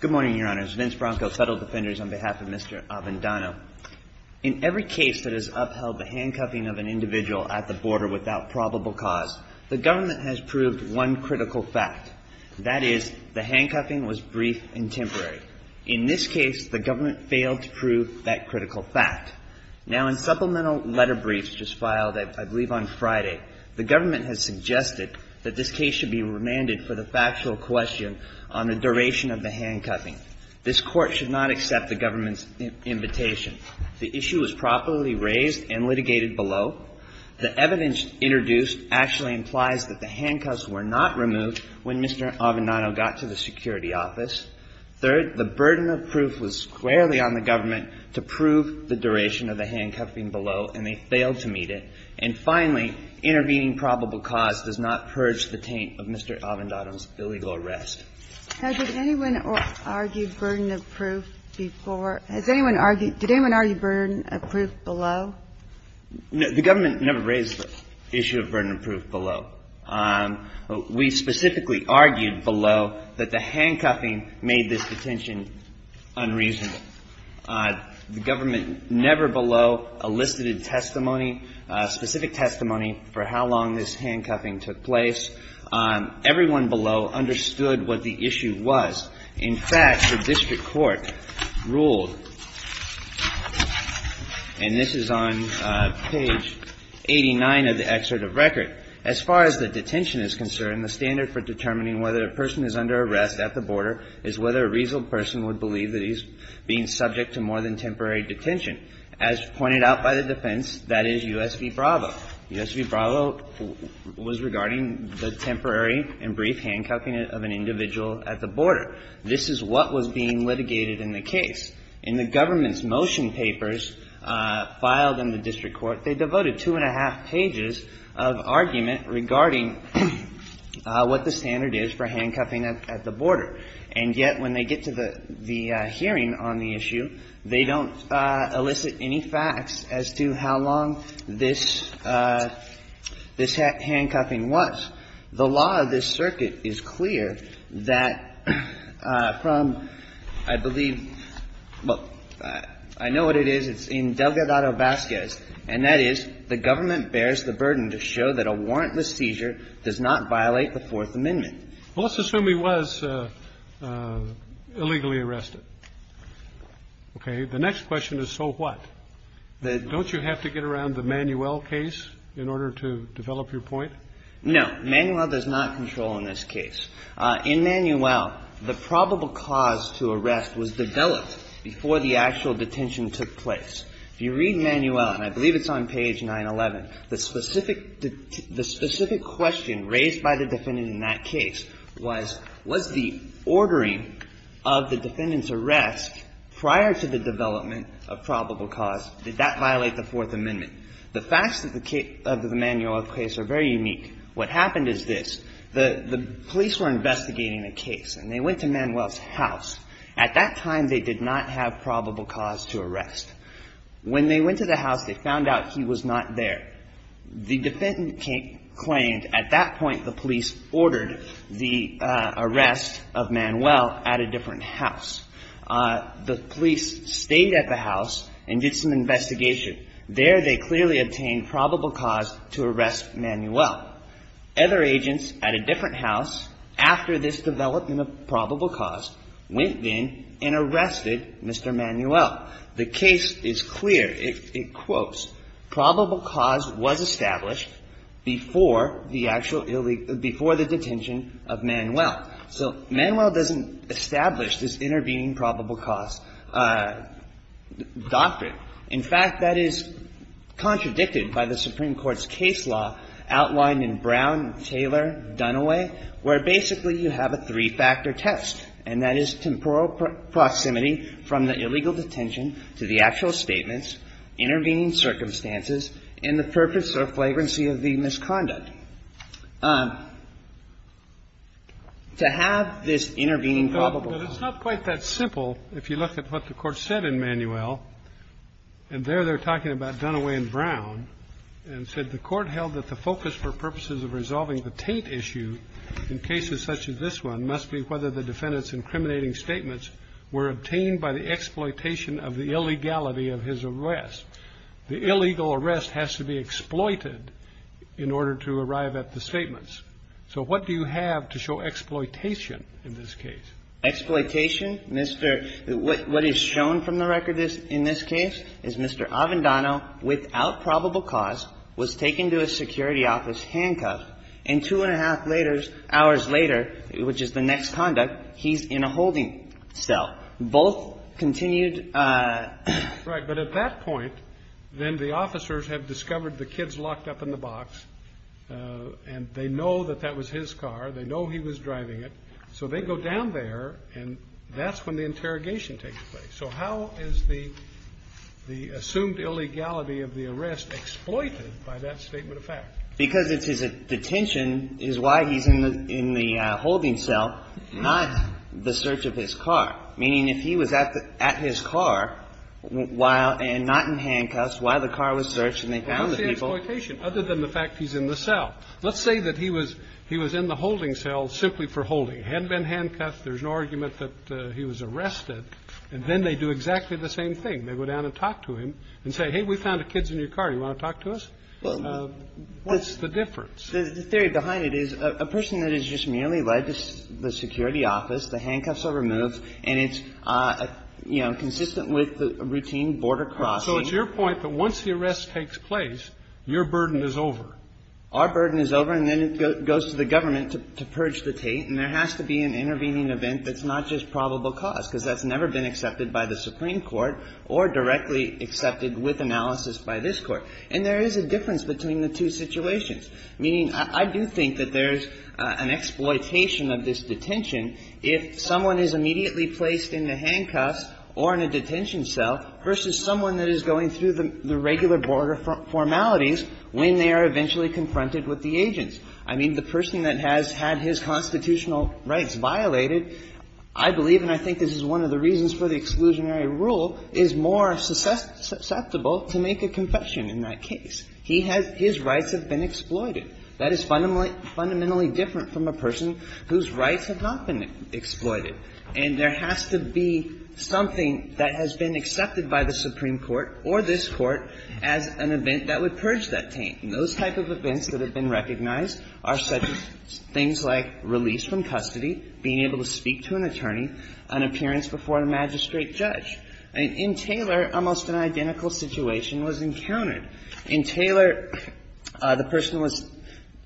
Good morning, your honors. Vince Bronco, Federal Defenders, on behalf of Mr. Avendano. In every case that has upheld the handcuffing of an individual at the border without probable cause, the government has proved one critical fact. That is, the handcuffing was brief and temporary. In this case, the government failed to prove that critical fact. Now, in supplemental letter briefs just filed, I believe on Friday, the government has suggested that this case should be remanded for the factual question on the duration of the handcuffing. This Court should not accept the government's invitation. The issue was properly raised and litigated below. The evidence introduced actually implies that the handcuffs were not removed when Mr. Avendano got to the security office. Third, the burden of proof was squarely on the government to prove the duration of the handcuffing below, and they failed to meet it. And finally, intervening probable cause does not purge the taint of Mr. Avendano's illegal arrest. Has anyone argued burden of proof before? Has anyone argued – did anyone argue burden of proof below? No. The government never raised the issue of burden of proof below. We specifically argued below that the handcuffing made this detention unreasonable. The government never below elicited testimony, specific testimony, for how long this was going on. Everyone below understood what the issue was. In fact, the district court ruled, and this is on page 89 of the excerpt of record, as far as the detention is concerned, the standard for determining whether a person is under arrest at the border is whether a reasonable person would believe that he's being subject to more than temporary detention. As pointed out by the defense, that is U.S. v. Bravo. U.S. v. Bravo was regarding the temporary and brief handcuffing of an individual at the border. This is what was being litigated in the case. In the government's motion papers filed in the district court, they devoted two and a half pages of argument regarding what the standard is for handcuffing at the border. And yet, when they get to the – the hearing on the issue, they don't elicit any facts as to how long this handcuffing was. The law of this circuit is clear that from, I believe – well, I know what it is. It's in Delgado-Vasquez, and that is the government bears the burden to show that a warrantless seizure does not violate the Fourth Amendment. Well, let's assume he was illegally arrested. Okay? The next question is, so what? Don't you have to get around the Manuel case? In order to develop your point? No. Manuel does not control in this case. In Manuel, the probable cause to arrest was developed before the actual detention took place. If you read Manuel, and I believe it's on page 911, the specific – the specific question raised by the defendant in that case was, was the ordering of the defendant's arrest prior to the development of probable cause, did that violate the Fourth Amendment? The facts of the Manuel case are very unique. What happened is this. The police were investigating the case, and they went to Manuel's house. At that time, they did not have probable cause to arrest. When they went to the house, they found out he was not there. The defendant claimed at that point the police ordered the arrest of Manuel at a different house. The police stayed at the house and did some investigation. There, they clearly obtained probable cause to arrest Manuel. Other agents at a different house, after this development of probable cause, went in and arrested Mr. Manuel. The case is clear. It quotes, probable cause was established before the actual – before the detention of Manuel. So Manuel doesn't establish this intervening probable cause doctrine. In fact, that is contradicted by the Supreme Court's case law outlined in Brown, Taylor, Dunaway, where basically you have a three-factor test, and that is temporal proximity from the illegal detention to the actual statements, intervening circumstances, and the purpose or flagrancy of the misconduct. To have this intervening probable cause – But it's not quite that simple if you look at what the Court said in Manuel. And there they're talking about Dunaway and Brown, and said the Court held that the focus for purposes of resolving the Tate issue in cases such as this one must be whether the defendant's incriminating statements were obtained by the exploitation of the illegality of his arrest. The illegal arrest has to be exploited in order to arrive at the statements. So what do you have to show exploitation in this case? Exploitation? Mr. – what is shown from the record in this case is Mr. Avendano, without probable cause, was taken to a security office handcuffed, and two and a half hours later, which is the next conduct, he's in a holding cell. Both continued – Right. But at that point, then the officers have discovered the kid's locked up in the box, and they know that that was his car, they know he was driving it. So they go down there, and that's when the interrogation takes place. So how is the assumed illegality of the arrest exploited by that statement of fact? Because it's his detention is why he's in the holding cell, not the search of his car, while – and not in handcuffs, while the car was searched and they found the people. Well, that's the exploitation, other than the fact he's in the cell. Let's say that he was – he was in the holding cell simply for holding. It hadn't been handcuffed. There's no argument that he was arrested. And then they do exactly the same thing. They go down and talk to him and say, hey, we found a kid's in your car. Do you want to talk to us? Well, but what's the difference? The theory behind it is a person that is just merely led to the security office. The handcuffs are removed, and it's, you know, consistent with the routine border crossing. So it's your point that once the arrest takes place, your burden is over. Our burden is over, and then it goes to the government to purge the Tate, and there has to be an intervening event that's not just probable cause, because that's never been accepted by the Supreme Court or directly accepted with analysis by this Court. And there is a difference between the two situations, meaning I do think that there's an exploitation of this detention if someone is immediately placed in the handcuffs or in a detention cell versus someone that is going through the regular border formalities when they are eventually confronted with the agents. I mean, the person that has had his constitutional rights violated, I believe, and I think this is one of the reasons for the exclusionary rule, is more susceptible to make a confession in that case. He has his rights have been exploited. That is fundamentally different from a person whose rights have not been exploited. And there has to be something that has been accepted by the Supreme Court or this Court as an event that would purge that Tate. And those type of events that have been recognized are such as things like release from custody, being able to speak to an attorney, an appearance before a magistrate judge. In Taylor, almost an identical situation was encountered. In Taylor, the person was –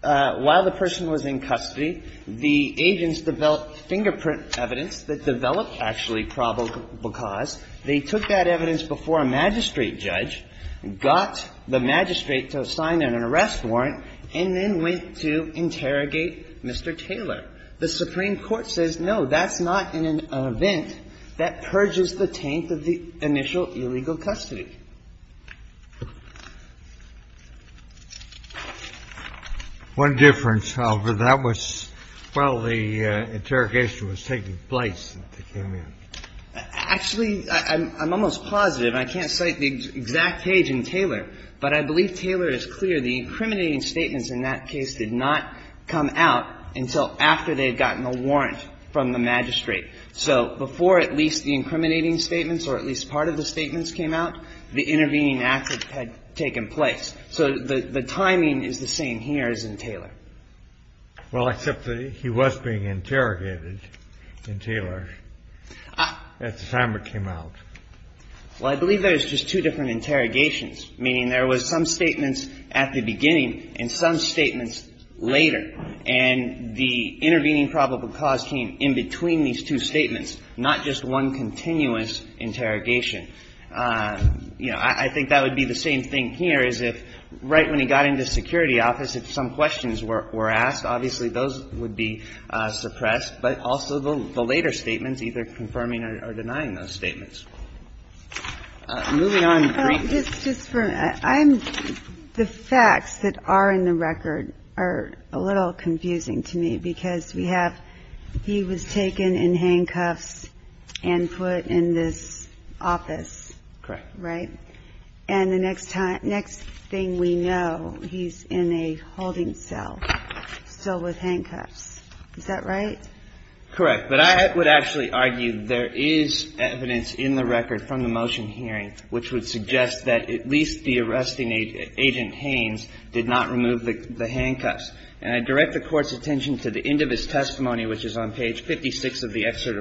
while the person was in custody, the agents developed fingerprint evidence that developed actually probable cause. They took that evidence before a magistrate judge, got the magistrate to sign an arrest warrant, and then went to interrogate Mr. Taylor. The Supreme Court says, no, that's not an event that purges the Tate of the initial illegal custody. What difference, however, that was while the interrogation was taking place that they came in. Actually, I'm almost positive, and I can't cite the exact page in Taylor, but I believe Taylor is clear the incriminating statements in that case did not come out until after they had gotten a warrant from the magistrate. So before at least the incriminating statements or at least part of the statements came out, the intervening act had taken place. So the timing is the same here as in Taylor. Well, except that he was being interrogated in Taylor at the time it came out. Well, I believe there's just two different interrogations, meaning there was some statements at the beginning and some statements later. And the intervening probable cause came in between these two statements, not just one continuous interrogation. You know, I think that would be the same thing here as if right when he got into security office, if some questions were asked, obviously those would be suppressed, but also the later statements, either confirming or denying those statements. Moving on. Just for me, I'm the facts that are in the record are a little confusing to me because we have he was taken in handcuffs and put in this office, right? And the next thing we know, he's in a holding cell still with handcuffs. Is that right? Correct. But I would actually argue there is evidence in the record from the motion hearing which would suggest that at least the arresting agent, Agent Haynes, did not remove the handcuffs. And I direct the Court's attention to the end of his testimony, which is on page 56 of the excerpt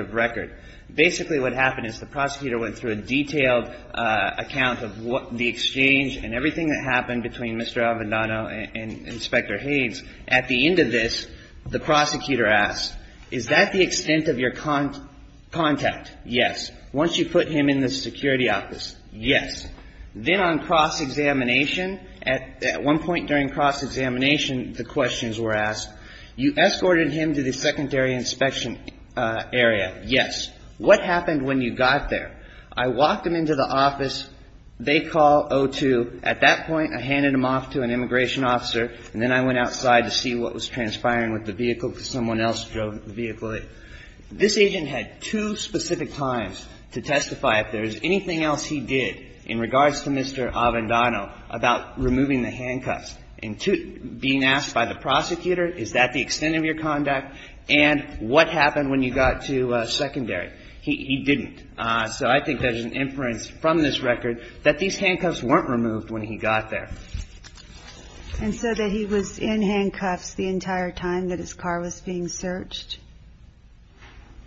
of record. Basically, what happened is the prosecutor went through a detailed account of what the exchange and everything that happened between Mr. Avendano and Inspector Haynes. At the end of this, the prosecutor asked, is that the extent of your contact? Yes. Once you put him in the security office, yes. Then on cross-examination, at one point during cross-examination, the questions were asked. You escorted him to the secondary inspection area, yes. What happened when you got there? I walked him into the office. They call 02. At that point, I handed him off to an immigration officer, and then I went outside to see what was transpiring with the vehicle because someone else drove the vehicle. This agent had two specific times to testify if there was anything else he did in regards to Mr. Avendano about removing the handcuffs. And being asked by the prosecutor, is that the extent of your contact? And what happened when you got to secondary? He didn't. So I think there's an inference from this record that these handcuffs weren't removed when he got there. And so that he was in handcuffs the entire time that his car was being searched?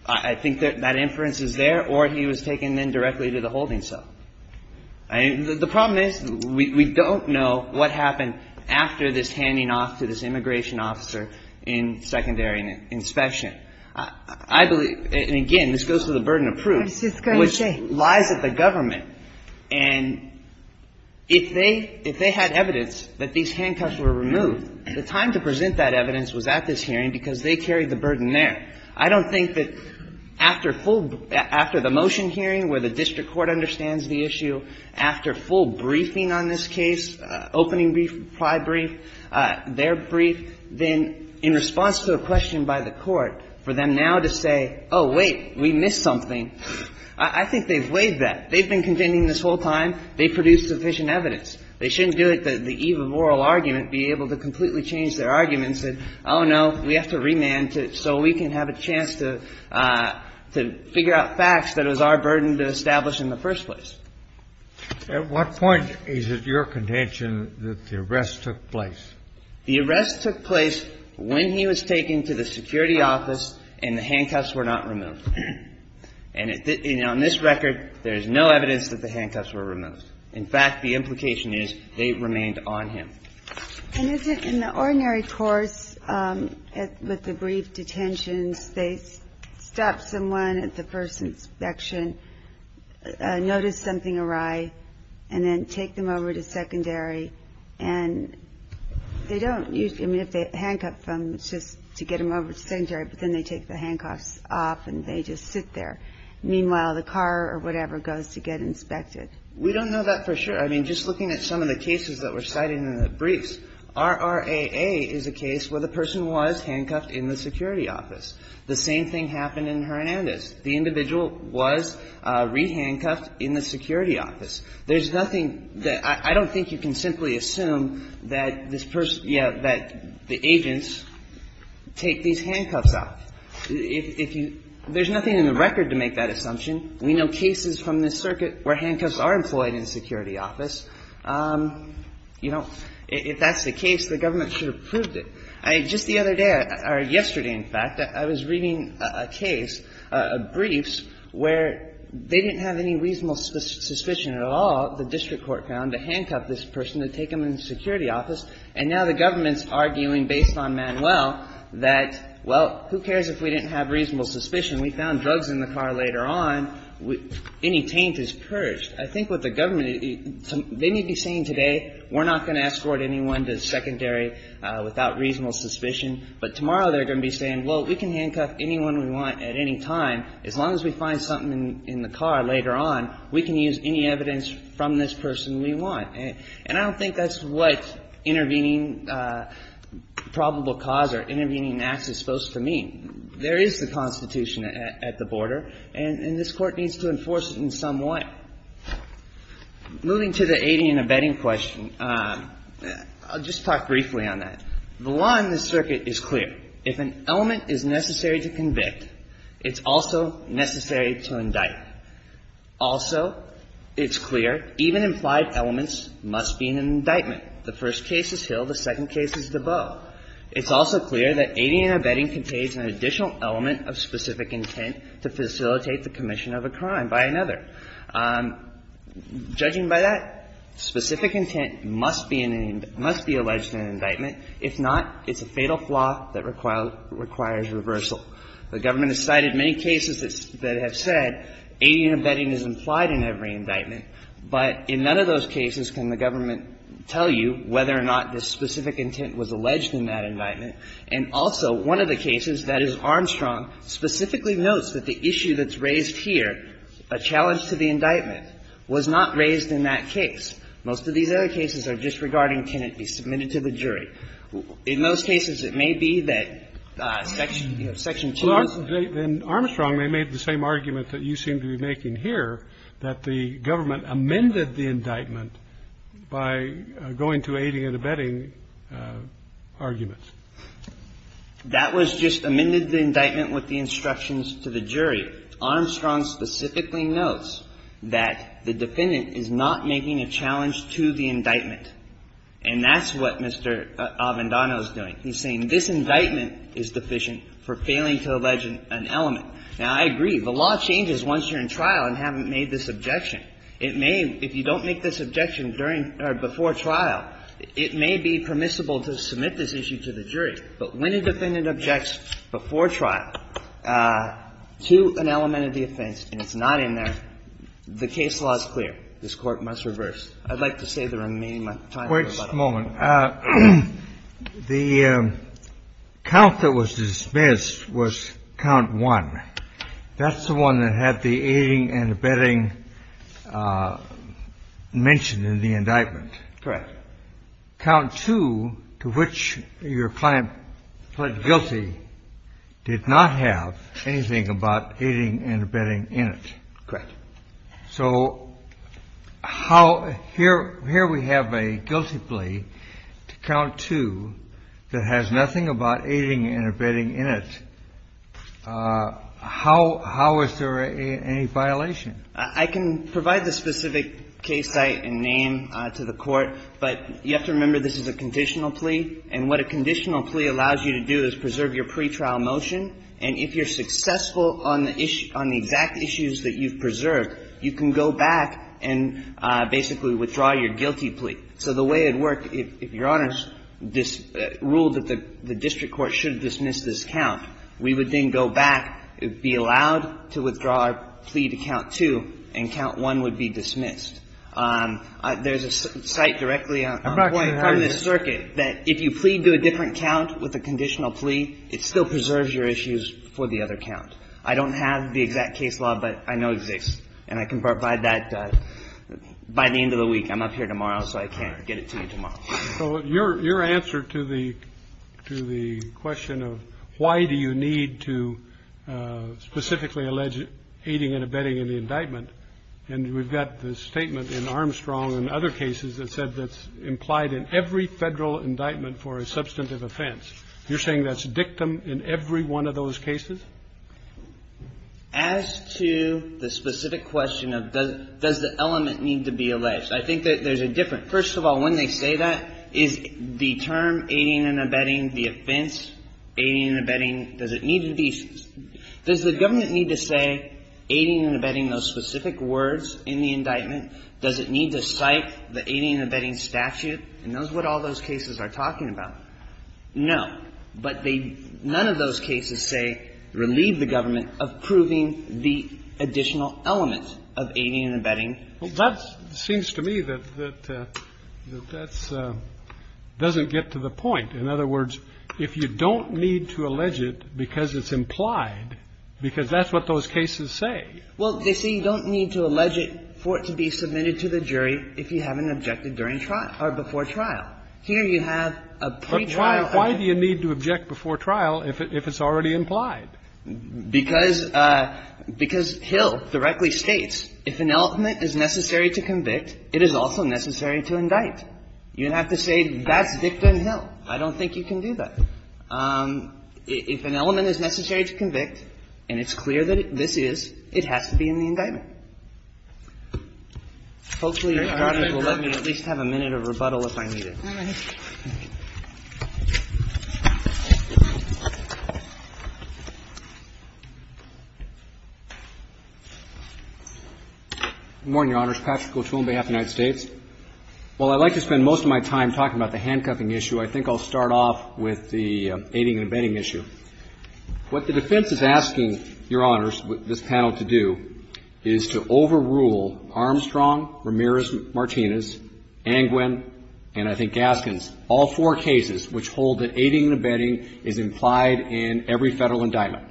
I think that that inference is there, or he was taken then directly to the holding cell. The problem is, we don't know what happened after this handing off to this immigration officer in secondary inspection. I believe, and again, this goes to the burden of proof, which lies with the government. And if they had evidence that these handcuffs were removed, the time to present that evidence was at this hearing because they carried the burden there. I don't think that after full – after the motion hearing where the district court understands the issue, after full briefing on this case, opening brief, prior brief, their brief, then in response to a question by the court, for them now to say, oh, wait, we missed something, I think they've waived that. They've been contending this whole time. They produced sufficient evidence. They shouldn't do it the eve of oral argument, be able to completely change their argument and say, oh, no, we have to remand so we can have a chance to figure out what happened in the first place. At what point is it your contention that the arrest took place? The arrest took place when he was taken to the security office and the handcuffs were not removed. And on this record, there is no evidence that the handcuffs were removed. In fact, the implication is they remained on him. And is it in the ordinary course with the brief detentions, they stop someone at the first inspection, notice something awry, and then take them over to secondary and they don't, I mean, if they handcuff them, it's just to get them over to secondary, but then they take the handcuffs off and they just sit there. Meanwhile, the car or whatever goes to get inspected. We don't know that for sure. I mean, just looking at some of the cases that were cited in the briefs, RRAA is a case where the person was handcuffed in the security office. The same thing happened in Hernandez. The individual was re-handcuffed in the security office. There's nothing that – I don't think you can simply assume that this person – yeah, that the agents take these handcuffs off. If you – there's nothing in the record to make that assumption. We know cases from this circuit where handcuffs are employed in the security office. You know, if that's the case, the government should have proved it. I – just the other day, or yesterday, in fact, I was reading a case, a briefs, where they didn't have any reasonable suspicion at all, the district court found, to handcuff this person, to take them in the security office, and now the government's arguing based on Manuel that, well, who cares if we didn't have reasonable suspicion. We found drugs in the car later on. Any taint is purged. I think what the government – they need to be saying today, we're not going to escort anyone to the secondary without reasonable suspicion, but tomorrow they're going to be saying, well, we can handcuff anyone we want at any time, as long as we find something in the car later on. We can use any evidence from this person we want. And I don't think that's what intervening probable cause or intervening in acts is supposed to mean. There is the Constitution at the border, and this Court needs to enforce it in some way. Now, moving to the aiding and abetting question, I'll just talk briefly on that. One, the circuit is clear. If an element is necessary to convict, it's also necessary to indict. Also, it's clear even implied elements must be in an indictment. The first case is Hill, the second case is Debeau. It's also clear that aiding and abetting contains an additional element of specific intent to facilitate the commission of a crime by another. Judging by that, specific intent must be in an indictment, must be alleged in an indictment. If not, it's a fatal flaw that requires reversal. The government has cited many cases that have said aiding and abetting is implied in every indictment, but in none of those cases can the government tell you whether or not the specific intent was alleged in that indictment. And also, one of the cases, that is Armstrong, specifically notes that the issue that's raised here, a challenge to the indictment, was not raised in that case. Most of these other cases are just regarding can it be submitted to the jury. In most cases, it may be that Section 2. Roberts. Roberts. In Armstrong, they made the same argument that you seem to be making here, that the government amended the indictment by going to aiding and abetting arguments. That was just amended the indictment with the instructions to the jury. Armstrong specifically notes that the defendant is not making a challenge to the indictment. And that's what Mr. Avendano is doing. He's saying this indictment is deficient for failing to allege an element. Now, I agree. The law changes once you're in trial and haven't made this objection. It may, if you don't make this objection during or before trial, it may be permissible to submit this issue to the jury. But when a defendant objects before trial to an element of the offense and it's not in there, the case law is clear. This Court must reverse. I'd like to save the remaining time. The count that was dismissed was count one. That's the one that had the aiding and abetting mentioned in the indictment. Correct. But count two, to which your client pled guilty, did not have anything about aiding and abetting in it. Correct. So how here we have a guilty plea to count two that has nothing about aiding and abetting in it. How is there any violation? I can provide the specific case site and name to the Court, but you have to remember this is a conditional plea. And what a conditional plea allows you to do is preserve your pretrial motion. And if you're successful on the exact issues that you've preserved, you can go back and basically withdraw your guilty plea. So the way it worked, if Your Honors ruled that the district court should dismiss this count, we would then go back, be allowed to withdraw our plea to count two, and count one would be dismissed. There's a site directly on point from this circuit that if you plead to a different count with a conditional plea, it still preserves your issues for the other count. I don't have the exact case law, but I know it exists. And I can provide that by the end of the week. I'm up here tomorrow, so I can't get it to you tomorrow. So your answer to the question of why do you need to specifically allege aiding and abetting in the indictment, and we've got the statement in Armstrong and other cases that said that's implied in every Federal indictment for a substantive offense, you're saying that's dictum in every one of those cases? As to the specific question of does the element need to be alleged, I think there's a difference. And first of all, when they say that, is the term aiding and abetting the offense, aiding and abetting, does it need a decent? Does the government need to say aiding and abetting those specific words in the indictment? Does it need to cite the aiding and abetting statute? And those are what all those cases are talking about. No. But they – none of those cases say relieve the government of proving the additional element of aiding and abetting. Well, that seems to me that that doesn't get to the point. In other words, if you don't need to allege it because it's implied, because that's what those cases say. Well, they say you don't need to allege it for it to be submitted to the jury if you haven't objected during trial or before trial. Here you have a pretrial. Why do you need to object before trial if it's already implied? Because Hill directly states if an element is necessary to convict, it is also necessary to indict. You don't have to say that's victim Hill. I don't think you can do that. If an element is necessary to convict, and it's clear that this is, it has to be in the indictment. Hopefully, Your Honor, you will let me at least have a minute of rebuttal if I need it. Good morning, Your Honors. Patrick O'Toole on behalf of the United States. While I'd like to spend most of my time talking about the handcuffing issue, I think I'll start off with the aiding and abetting issue. What the defense is asking Your Honors, this panel, to do is to overrule Armstrong, Ramirez-Martinez, Angwin, and I think Gaskins, all four cases which hold that aiding and abetting is implied in every federal indictment.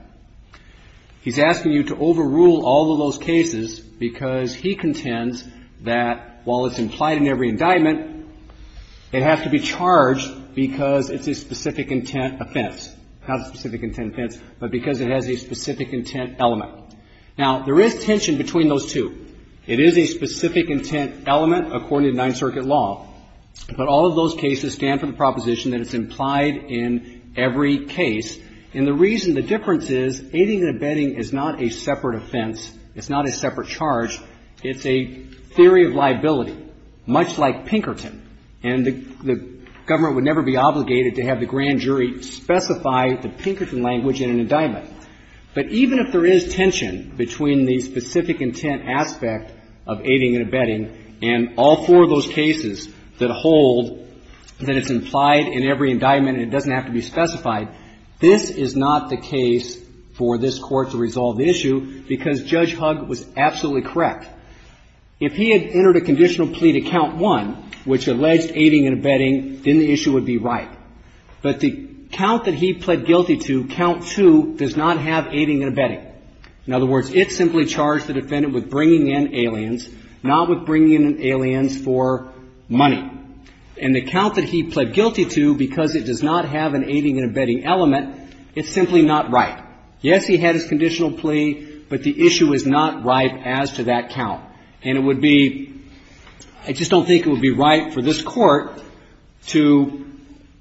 He's asking you to overrule all of those cases because he contends that while it's implied in every indictment, it has to be charged because it's a specific intent offense. Not a specific intent offense, but because it has a specific intent element. Now, there is tension between those two. It is a specific intent element according to Ninth Circuit law, but all of those cases stand for the proposition that it's implied in every case. And the reason, the difference is aiding and abetting is not a separate offense. It's not a separate charge. It's a theory of liability, much like Pinkerton. And the government would never be obligated to have the grand jury specify the Pinkerton language in an indictment. But even if there is tension between the specific intent aspect of aiding and abetting and all four of those cases that hold that it's implied in every indictment and it doesn't have to be specified, this is not the case for this Court to resolve the issue because Judge Hugg was absolutely correct. If he had entered a conditional plea to count one, which alleged aiding and abetting, then the issue would be right. But the count that he pled guilty to, count two, does not have aiding and abetting. In other words, it simply charged the defendant with bringing in aliens, not with bringing in aliens for money. And the count that he pled guilty to, because it does not have an aiding and abetting element, it's simply not right. Yes, he had his conditional plea, but the issue is not right as to that count. And it would be, I just don't think it would be right for this Court to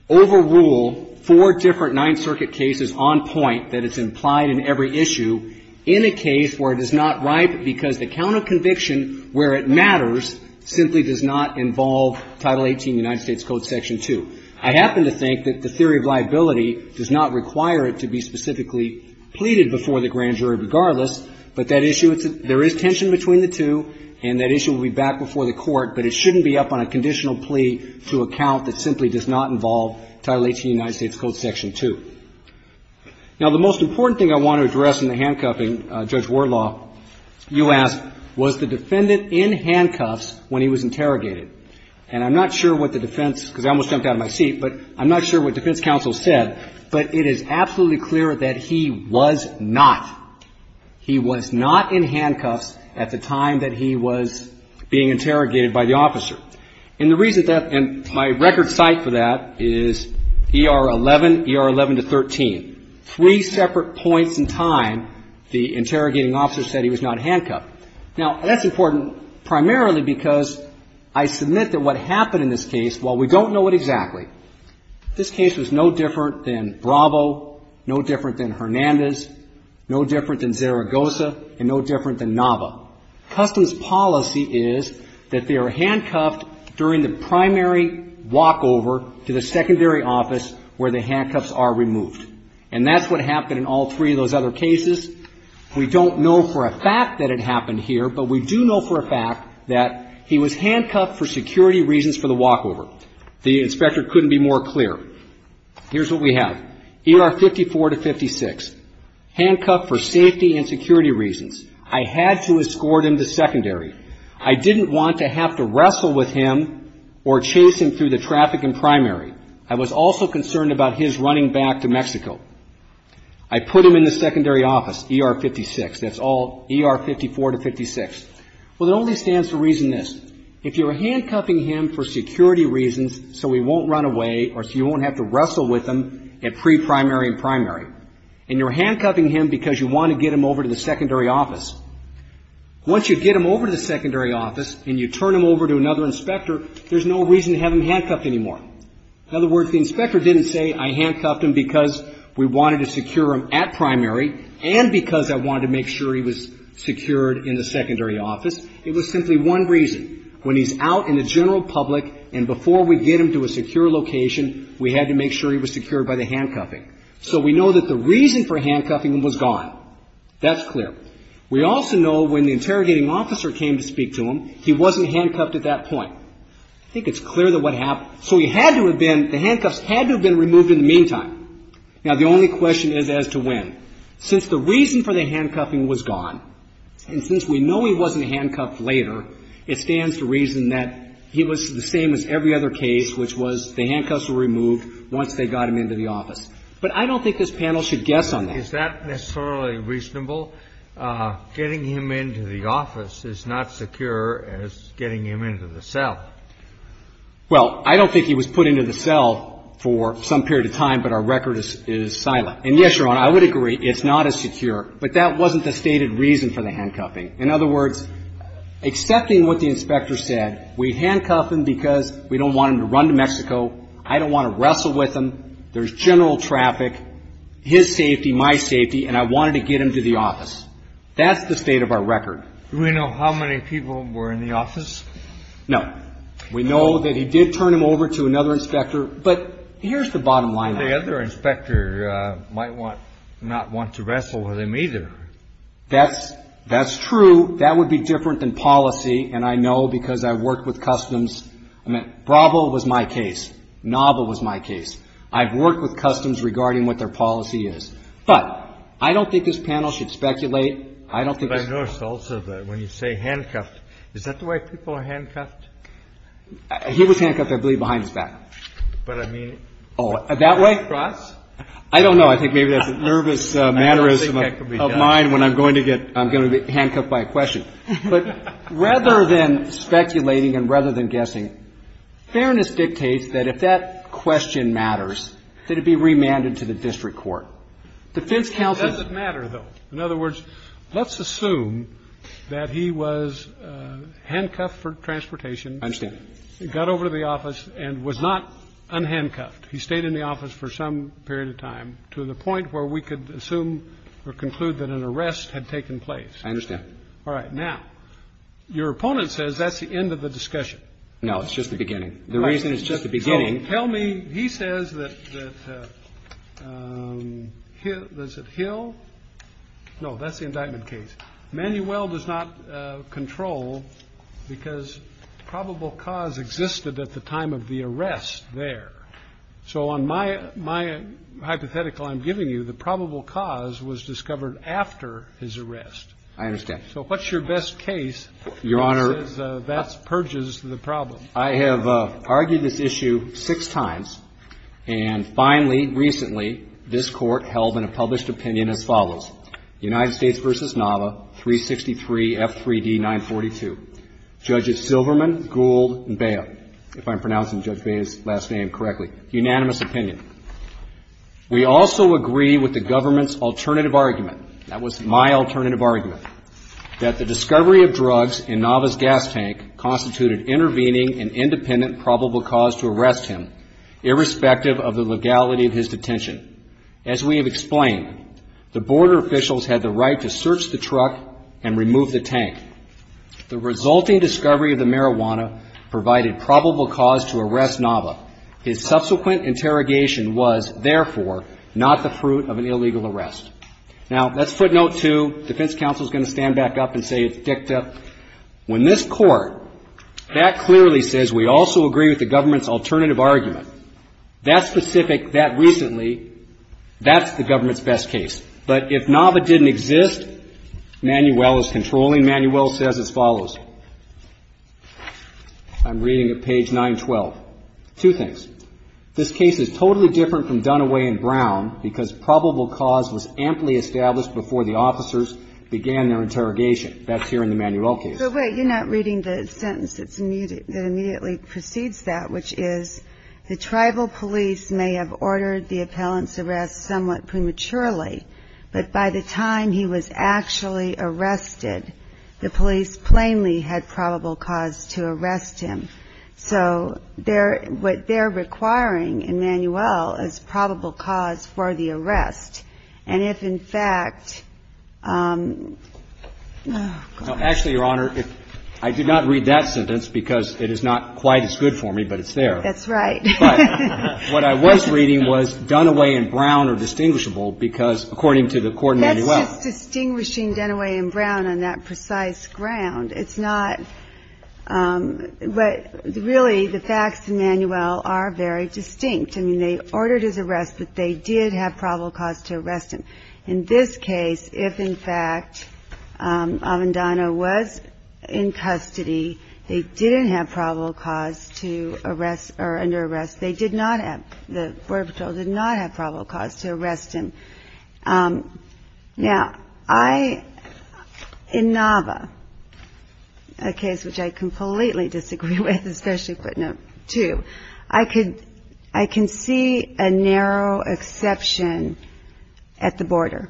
overrule four different Ninth Circuit cases on point that it's implied in every issue in a case where it is not right because the count of conviction where it matters simply does not involve Title 18 United States Code, Section 2. I happen to think that the theory of liability does not require it to be specifically pleaded before the grand jury regardless, but that issue, there is tension between the two and that issue will be back before the Court, but it shouldn't be up on a conditional plea to a count that simply does not involve Title 18 United States Code, Section 2. Now, the most important thing I want to address in the handcuffing, Judge Warlaw, you asked, was the defendant in handcuffs when he was interrogated? And I'm not sure what the defense, because I almost jumped out of my seat, but I'm not sure what defense counsel said, but it is absolutely clear that he was not. He was not in handcuffs at the time that he was being interrogated by the officer. And the reason that, and my record site for that is ER 11, ER 11 to 13. Three separate points in time, the interrogating officer said he was not handcuffed. Now, that's important primarily because I submit that what happened in this case, while we don't know it exactly, this case was no different than Bravo, no different than Hernandez, no different than Zaragoza, and no different than Nava. Customs policy is that they are handcuffed during the primary walkover to the secondary office where the handcuffs are removed. And that's what happened in all three of those other cases. We don't know for a fact that it happened here, but we do know for a fact that he was handcuffed for security reasons for the walkover. The inspector couldn't be more clear. Here's what we have. ER 54 to 56, handcuffed for safety and security reasons. I had to escort him to secondary. I didn't want to have to wrestle with him or chase him through the traffic in primary. I was also concerned about his running back to Mexico. I put him in the secondary office, ER 56, that's all ER 54 to 56. Well, it only stands to reason this. If you're handcuffing him for security reasons so he won't run away or so you won't have to wrestle with him at pre-primary and primary, and you're handcuffing him because you want to get him over to the secondary office. Once you get him over to the secondary office and you turn him over to another inspector, there's no reason to have him handcuffed anymore. In other words, the inspector didn't say, I handcuffed him because we wanted to secure him at primary and because I wanted to make sure he was secured in the secondary office. It was simply one reason. When he's out in the general public and before we get him to a secure location, we had to make sure he was secured by the handcuffing. So we know that the reason for handcuffing him was gone. That's clear. We also know when the interrogating officer came to speak to him, he wasn't handcuffed at that point. I think it's clear that what happened. So he had to have been, the handcuffs had to have been removed in the meantime. Now the only question is as to when. Since the reason for the handcuffing was gone, and that's the reason that he was the same as every other case, which was the handcuffs were removed once they got him into the office. But I don't think this panel should guess on that. Is that necessarily reasonable? Getting him into the office is not secure as getting him into the cell. Well, I don't think he was put into the cell for some period of time, but our record is silent. And yes, Your Honor, I would agree, it's not as secure, but that wasn't the stated reason for the handcuffing. In other words, accepting what the inspector said, we handcuffed him because we don't want him to run to Mexico, I don't want to wrestle with him. There's general traffic, his safety, my safety, and I wanted to get him to the office. That's the state of our record. Do we know how many people were in the office? No. We know that he did turn him over to another inspector, but here's the bottom line. The other inspector might not want to wrestle with him either. That's true. That would be different than policy, and I know because I've worked with customs. I mean, Bravo was my case. Nava was my case. I've worked with customs regarding what their policy is. But I don't think this panel should speculate. I don't think- I noticed also that when you say handcuffed, is that the way people are handcuffed? He was handcuffed, I believe, behind his back. But I mean- That way for us? I don't know. I think maybe that's a nervous mannerism of mine when I'm going to get handcuffed by a question. But rather than speculating and rather than guessing, fairness dictates that if that question matters, that it be remanded to the district court. Defense counsel- It doesn't matter, though. In other words, let's assume that he was handcuffed for transportation, got over to the office, and was not unhandcuffed. He stayed in the office for some period of time to the point where we could assume or conclude that an arrest had taken place. I understand. All right. Now, your opponent says that's the end of the discussion. No, it's just the beginning. The reason it's just the beginning- So tell me, he says that Hill – no, that's the indictment case. Manuel does not control because probable cause existed at the time of the arrest there. So on my hypothetical I'm giving you, the probable cause was discovered after his arrest. I understand. So what's your best case- Your Honor- That purges the problem? I have argued this issue six times, and finally, recently, this Court held in a published opinion as follows. United States v. Nava, 363 F3D 942. Judges Silverman, Gould, and Bea, if I'm pronouncing Judge Bea's last name correctly, unanimous opinion. We also agree with the government's alternative argument, that was my alternative argument, that the discovery of drugs in Nava's gas tank constituted intervening an independent probable cause to arrest him, irrespective of the legality of his detention. As we have explained, the border officials had the right to search the truck and remove the tank. The resulting discovery of the marijuana provided probable cause to arrest Nava. His subsequent interrogation was, therefore, not the fruit of an illegal arrest. Now, that's footnote two. Defense counsel is going to stand back up and say it's dicta. When this Court, that clearly says we also agree with the government's alternative argument. That specific, that recently, that's the government's best case. But if Nava didn't exist, Manuel is controlling. Manuel says as follows, I'm reading at page 912, two things. This case is totally different from Dunaway and Brown, because probable cause was amply established before the officers began their interrogation. That's here in the Manuel case. But wait, you're not reading the sentence that immediately precedes that, which is the tribal police may have ordered the appellant's arrest somewhat prematurely. But by the time he was actually arrested, the police plainly had probable cause to arrest him. So, what they're requiring in Manuel is probable cause for the arrest. And if, in fact, Actually, Your Honor, I did not read that sentence because it is not quite as good for me, but it's there. That's right. But what I was reading was Dunaway and Brown are distinguishable because, according to the court in Manuel. That's just distinguishing Dunaway and Brown on that precise ground. It's not, but really, the facts in Manuel are very distinct. I mean, they ordered his arrest, but they did have probable cause to arrest him. In this case, if, in fact, Avendano was in custody, they didn't have probable cause to arrest or under arrest. They did not have, the border patrol did not have probable cause to arrest him. Now, I, in Nava, a case which I completely disagree with, especially footnote two. I can see a narrow exception at the border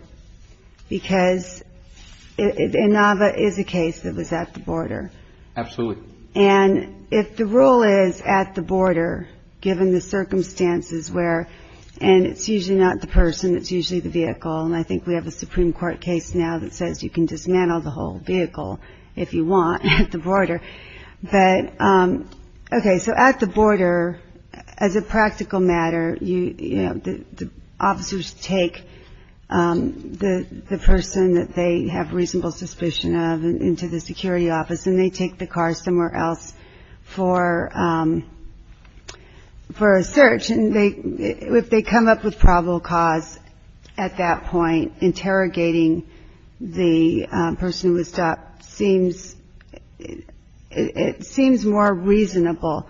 because in Nava is a case that was at the border. Absolutely. And if the rule is at the border, given the circumstances where, and it's usually not the person, it's usually the vehicle. And I think we have a Supreme Court case now that says you can dismantle the whole vehicle if you want at the border. But, okay, so at the border, as a practical matter, the officers take the person that they have reasonable suspicion of into the security office. And they take the car somewhere else for a search. And if they come up with probable cause at that point, interrogating the person who was stopped seems, it seems more reasonable.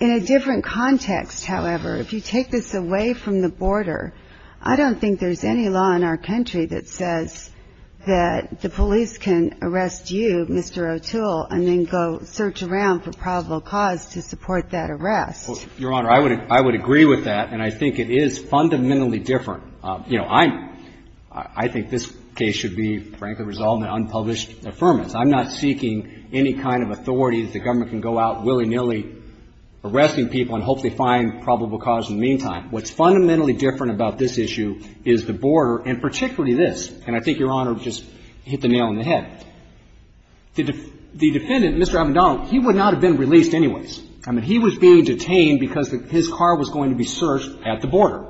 In a different context, however, if you take this away from the border, I don't think there's any law in our country that says that the police can arrest you, Mr. O'Toole, and then go search around for probable cause to support that arrest. Your Honor, I would agree with that, and I think it is fundamentally different. You know, I'm, I think this case should be, frankly, resolved in unpublished affirmance. I'm not seeking any kind of authority that the government can go out willy-nilly arresting people and hopefully find probable cause in the meantime. What's fundamentally different about this issue is the border, and particularly this, and I think Your Honor just hit the nail on the head. The defendant, Mr. Avedon, he would not have been released anyways. I mean, he was being detained because his car was going to be searched at the border.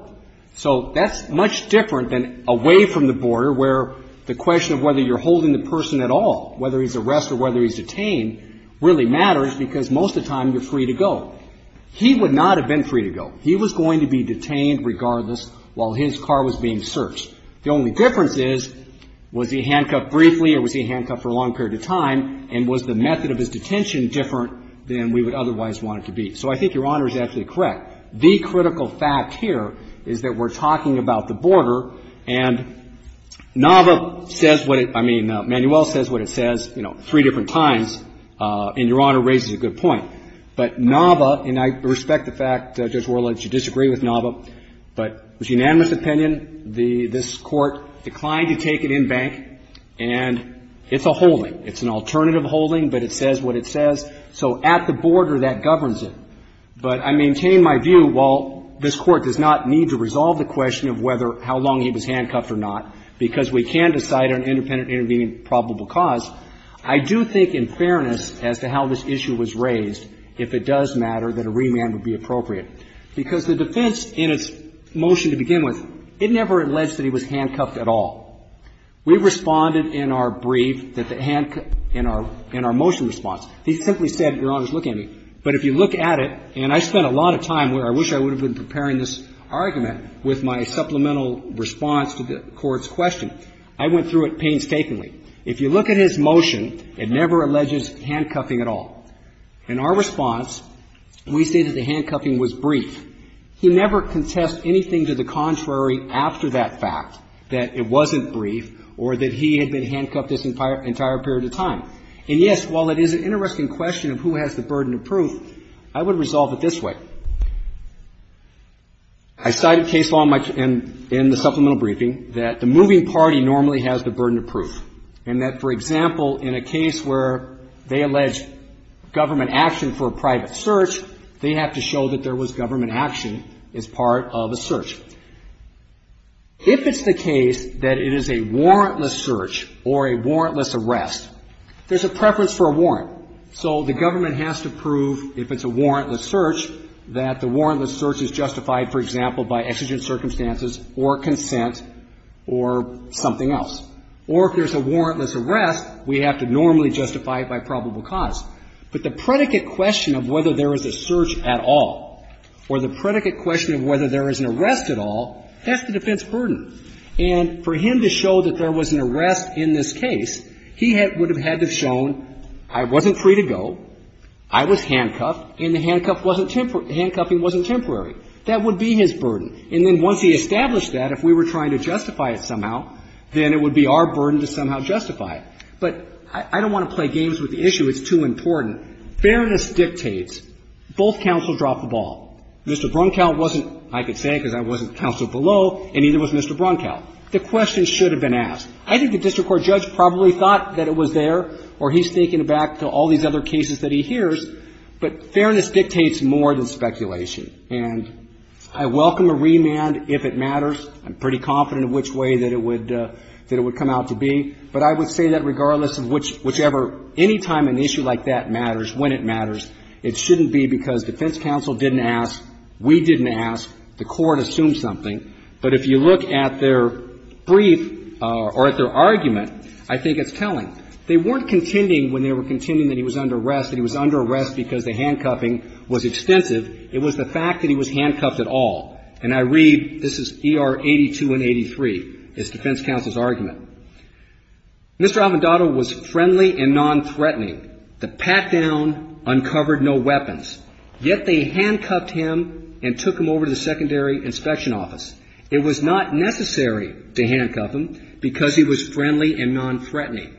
So that's much different than away from the border where the question of whether you're holding the person at all, whether he's arrested or whether he's detained, really matters because most of the time you're free to go. He would not have been free to go. He was going to be detained regardless while his car was being searched. The only difference is, was he handcuffed briefly or was he handcuffed for a long period of time, and was the method of his detention different than we would otherwise want it to be? So I think Your Honor is actually correct. The critical fact here is that we're talking about the border, and Nava says what it, I mean, Manuel says what it says, you know, three different times, and Your Honor raises a good point. But Nava, and I respect the fact, Judge Worley, that you disagree with Nava, but it was unanimous opinion. This Court declined to take it in bank, and it's a holding. It's an alternative holding, but it says what it says. So at the border, that governs it. But I maintain my view, while this Court does not need to resolve the question of whether, how long he was handcuffed or not, because we can decide on independent intervening probable cause, I do think in fairness as to how this issue was raised, if it does matter, that a remand would be appropriate. Because the defense in its motion to begin with, it never alleged that he was handcuffed at all. We responded in our brief that the handcuff, in our, in our motion response, he simply said, Your Honor, look at me. But if you look at it, and I spent a lot of time where I wish I would have been preparing this argument with my supplemental response to the Court's question. I went through it painstakingly. If you look at his motion, it never alleges handcuffing at all. In our response, we say that the handcuffing was brief. He never contests anything to the contrary after that fact, that it wasn't brief or that he had been handcuffed this entire period of time. And, yes, while it is an interesting question of who has the burden of proof, I would resolve it this way. I cite a case law in my, in the supplemental briefing that the moving party normally has the burden of proof. And that, for example, in a case where they allege government action for a private search, they have to show that there was government action as part of a search. If it's the case that it is a warrantless search or a warrantless arrest, there's a preference for a warrant. So the government has to prove, if it's a warrantless search, that the warrantless search is justified, for example, by exigent circumstances or consent or something else. Or if there's a warrantless arrest, we have to normally justify it by probable cause. But the predicate question of whether there is a search at all or the predicate question of whether there is an arrest at all, that's the defense burden. And for him to show that there was an arrest in this case, he would have had to have shown, I wasn't free to go, I was handcuffed, and the handcuffing wasn't temporary. That would be his burden. And then once he established that, if we were trying to justify it somehow, then it would be our burden to somehow justify it. But I don't want to play games with the issue. It's too important. Fairness dictates, both counsels drop the ball. Mr. Brunkow wasn't, I could say because I wasn't counsel below, and neither was Mr. Brunkow. The question should have been asked. I think the district court judge probably thought that it was there, or he's thinking back to all these other cases that he hears. But fairness dictates more than speculation. And I welcome a remand if it matters. I'm pretty confident of which way that it would come out to be. But I would say that regardless of whichever, any time an issue like that matters, when it matters, it shouldn't be because defense counsel didn't ask, we didn't ask, the court assumed something. But if you look at their brief or at their argument, I think it's telling. They weren't contending when they were contending that he was under arrest, that he was under arrest because the handcuffing was extensive. It was the fact that he was handcuffed at all. And I read, this is ER 82 and 83, is defense counsel's argument. Mr. Avendotto was friendly and nonthreatening. The pat-down uncovered no weapons. Yet they handcuffed him and took him over to the secondary inspection office. It was not necessary to handcuff him because he was friendly and nonthreatening.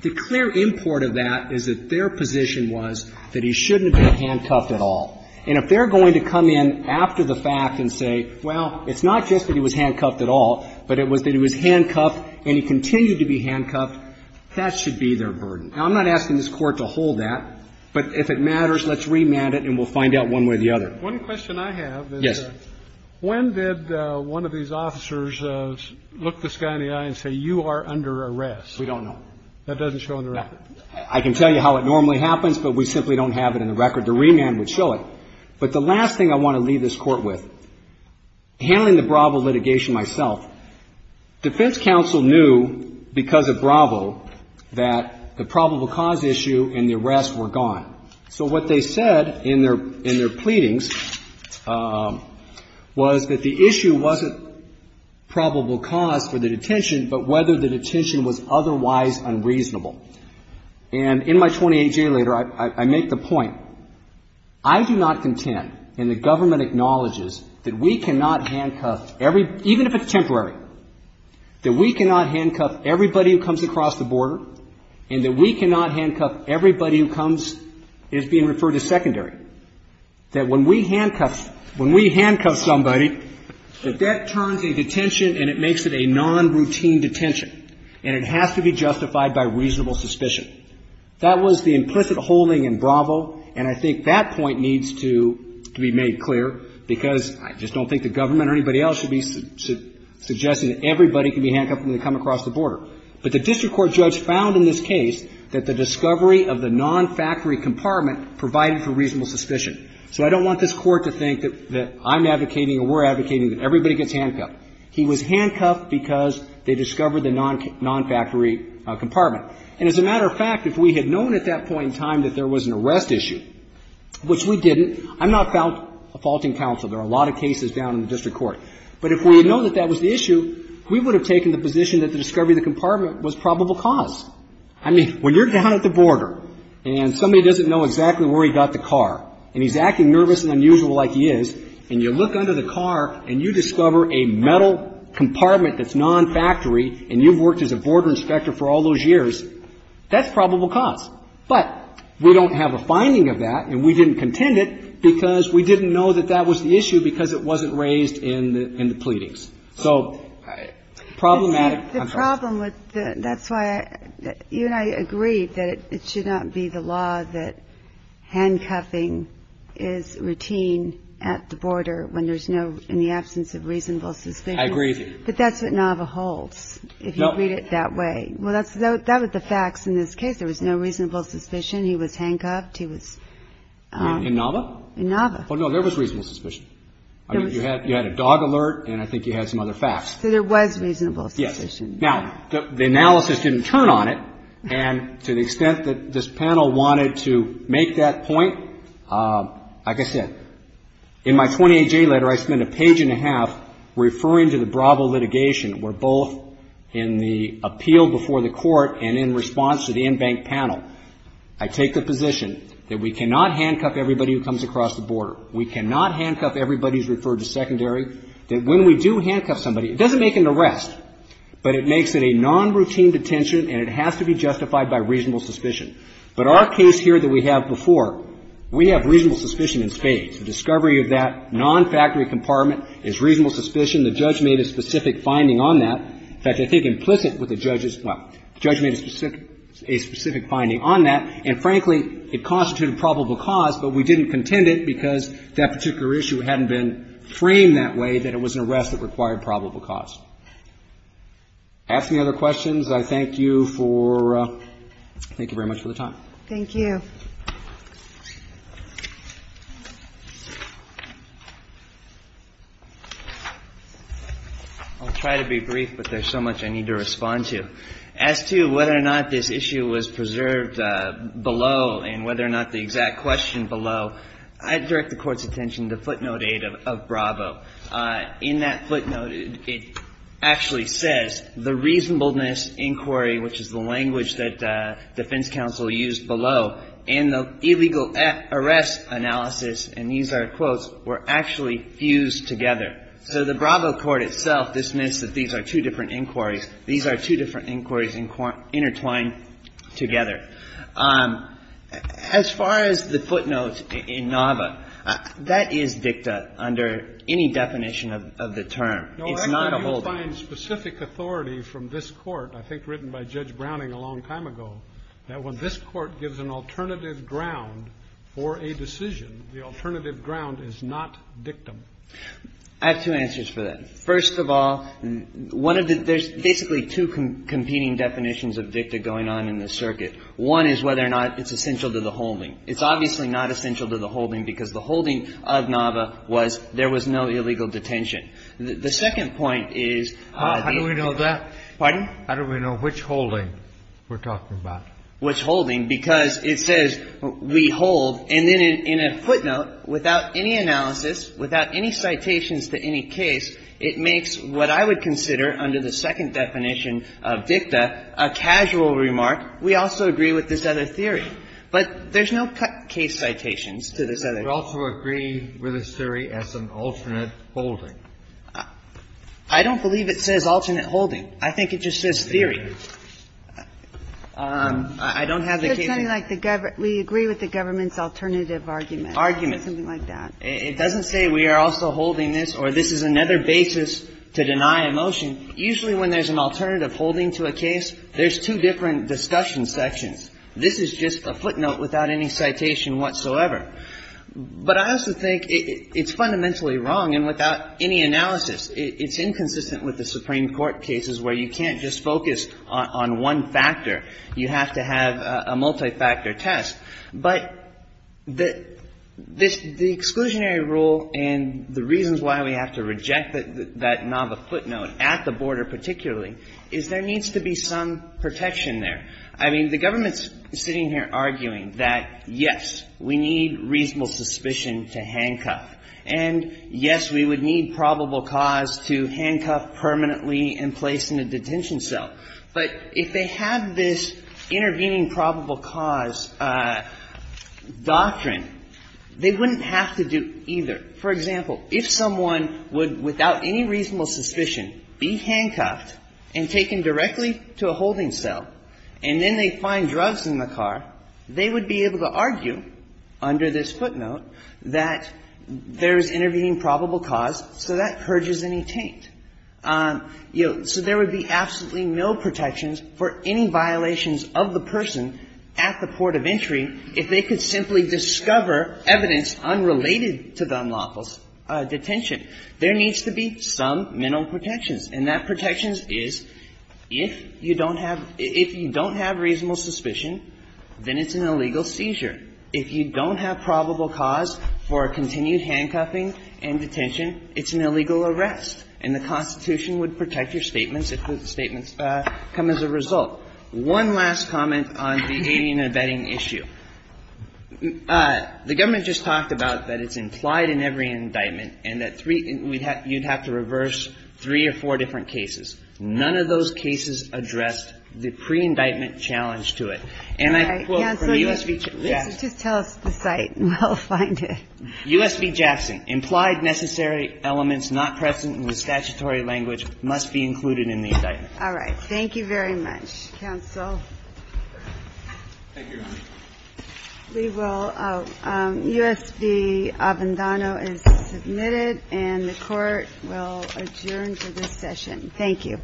The clear import of that is that their position was that he shouldn't have been handcuffed at all. And if they're going to come in after the fact and say, well, it's not just that he was handcuffed at all, but it was that he was handcuffed and he continued to be handcuffed, that should be their burden. Now, I'm not asking this Court to hold that, but if it matters, let's remand it and we'll find out one way or the other. One question I have is that when did one of these officers look this guy in the eye and say, you are under arrest? We don't know. That doesn't show in the record. I can tell you how it normally happens, but we simply don't have it in the record. The remand would show it. But the last thing I want to leave this Court with, handling the Bravo litigation myself, defense counsel knew because of Bravo that the probable cause issue and the arrest were gone. So what they said in their in their pleadings was that the issue wasn't probable cause for the detention, but whether the detention was otherwise unreasonable. And in my 28-year letter, I make the point, I do not contend and the government acknowledges that we cannot handcuff every — even if it's temporary, that we cannot handcuff everybody who comes across the border and that we cannot handcuff everybody who comes — is being referred to secondary, that when we handcuff — when we handcuff somebody, that that turns a detention and it makes it a non-routine detention. And it has to be justified by reasonable suspicion. That was the implicit holding in Bravo, and I think that point needs to be made clear, because I just don't think the government or anybody else should be suggesting that everybody can be handcuffed when they come across the border. But the district court judge found in this case that the discovery of the non-factory compartment provided for reasonable suspicion. So I don't want this Court to think that I'm advocating or we're advocating that everybody gets handcuffed. He was handcuffed because they discovered the non-factory compartment. And as a matter of fact, if we had known at that point in time that there was an arrest issue, which we didn't, I'm not a faulting counsel. There are a lot of cases down in the district court. But if we would have known that that was the issue, we would have taken the position that the discovery of the compartment was probable cause. I mean, when you're down at the border and somebody doesn't know exactly where he got the car, and he's acting nervous and unusual like he is, and you look under the car and you discover a metal compartment that's non-factory and you've worked as a border inspector for all those years, that's probable cause. But we don't have a finding of that and we didn't contend it because we didn't know that that was the issue because it wasn't raised in the pleadings. So problematic. The problem with the – that's why you and I agreed that it should not be the law that handcuffing is routine at the border when there's no – in the absence of reasonable suspicion. I agree with you. But that's what Nava holds, if you read it that way. Well, that was the facts in this case. There was no reasonable suspicion. He was handcuffed. He was – In Nava? In Nava. Oh, no, there was reasonable suspicion. You had a dog alert and I think you had some other facts. So there was reasonable suspicion. Yes. Now, the analysis didn't turn on it. And to the extent that this panel wanted to make that point, like I said, in my 28J letter, I spent a page and a half referring to the Bravo litigation where both in the appeal before the court and in response to the in-bank panel, I take the position that we cannot handcuff everybody who comes across the border. We cannot handcuff everybody who's referred to secondary. That when we do handcuff somebody, it doesn't make an arrest, but it makes it a non-routine detention and it has to be justified by reasonable suspicion. But our case here that we have before, we have reasonable suspicion in spades. The discovery of that non-factory compartment is reasonable suspicion. The judge made a specific finding on that. In fact, I think implicit with the judge is – well, the judge made a specific finding on that. And frankly, it constituted probable cause, but we didn't contend it because that particular issue hadn't been framed that way that it was an arrest that required probable cause. If you have any other questions, I thank you for – thank you very much for the time. Thank you. I'll try to be brief, but there's so much I need to respond to. As to whether or not this issue was preserved below and whether or not the exact question below, I direct the Court's attention to footnote 8 of Bravo. In that footnote, it actually says the reasonableness inquiry, which is the language that defense counsel used below, and the illegal arrest analysis, and these are quotes, were actually fused together. So the Bravo court itself dismissed that these are two different inquiries. These are two different inquiries intertwined together. As far as the footnotes in Nava, that is dicta under any definition of the term. It's not a holdup. No, I thought you would find specific authority from this Court, I think written by Judge Browning a long time ago, that when this Court gives an alternative ground for a decision, the alternative ground is not dictum. I have two answers for that. First of all, one of the – there's basically two competing definitions of dicta going on in this circuit. One is whether or not it's essential to the holding. It's obviously not essential to the holding because the holding of Nava was there was no illegal detention. The second point is the – How do we know that? Pardon? How do we know which holding we're talking about? Which holding, because it says we hold, and then in a footnote, without any analysis, without any citations to any case, it makes what I would consider under the second definition of dicta a casual remark. We also agree with this other theory. But there's no case citations to this other theory. But you also agree with this theory as an alternate holding. I don't believe it says alternate holding. I think it just says theory. I don't have the case. It's something like the government – we agree with the government's alternative argument. Argument. Something like that. It doesn't say we are also holding this or this is another basis to deny a motion. Usually when there's an alternative holding to a case, there's two different discussion sections. This is just a footnote without any citation whatsoever. But I also think it's fundamentally wrong, and without any analysis, it's inconsistent with the Supreme Court cases where you can't just focus on one factor. You have to have a multifactor test. But the exclusionary rule and the reasons why we have to reject that Nava footnote at the border particularly is there needs to be some protection there. I mean, the government's sitting here arguing that, yes, we need reasonable suspicion to handcuff, and, yes, we would need probable cause to handcuff permanently and place in a detention cell. But if they have this intervening probable cause doctrine, they wouldn't have to do either. For example, if someone would, without any reasonable suspicion, be handcuffed and taken directly to a holding cell, and then they find drugs in the car, they would be able to argue under this footnote that there's intervening probable cause, so that purges any taint. So there would be absolutely no protections for any violations of the person at the There needs to be some mental protections, and that protection is, if you don't have – if you don't have reasonable suspicion, then it's an illegal seizure. If you don't have probable cause for continued handcuffing and detention, it's an illegal arrest, and the Constitution would protect your statements if the statements come as a result. One last comment on the alien abetting issue. The government just talked about that it's implied in every indictment and that you'd have to reverse three or four different cases. None of those cases addressed the pre-indictment challenge to it. And I quote from the U.S. v. Jackson. All right. Counsel, just tell us the site and we'll find it. U.S. v. Jackson. Implied necessary elements not present in the statutory language must be included in the indictment. All right. Thank you very much. Counsel. Thank you. We will – U.S. v. Avendano is submitted, and the Court will adjourn to this session. Thank you.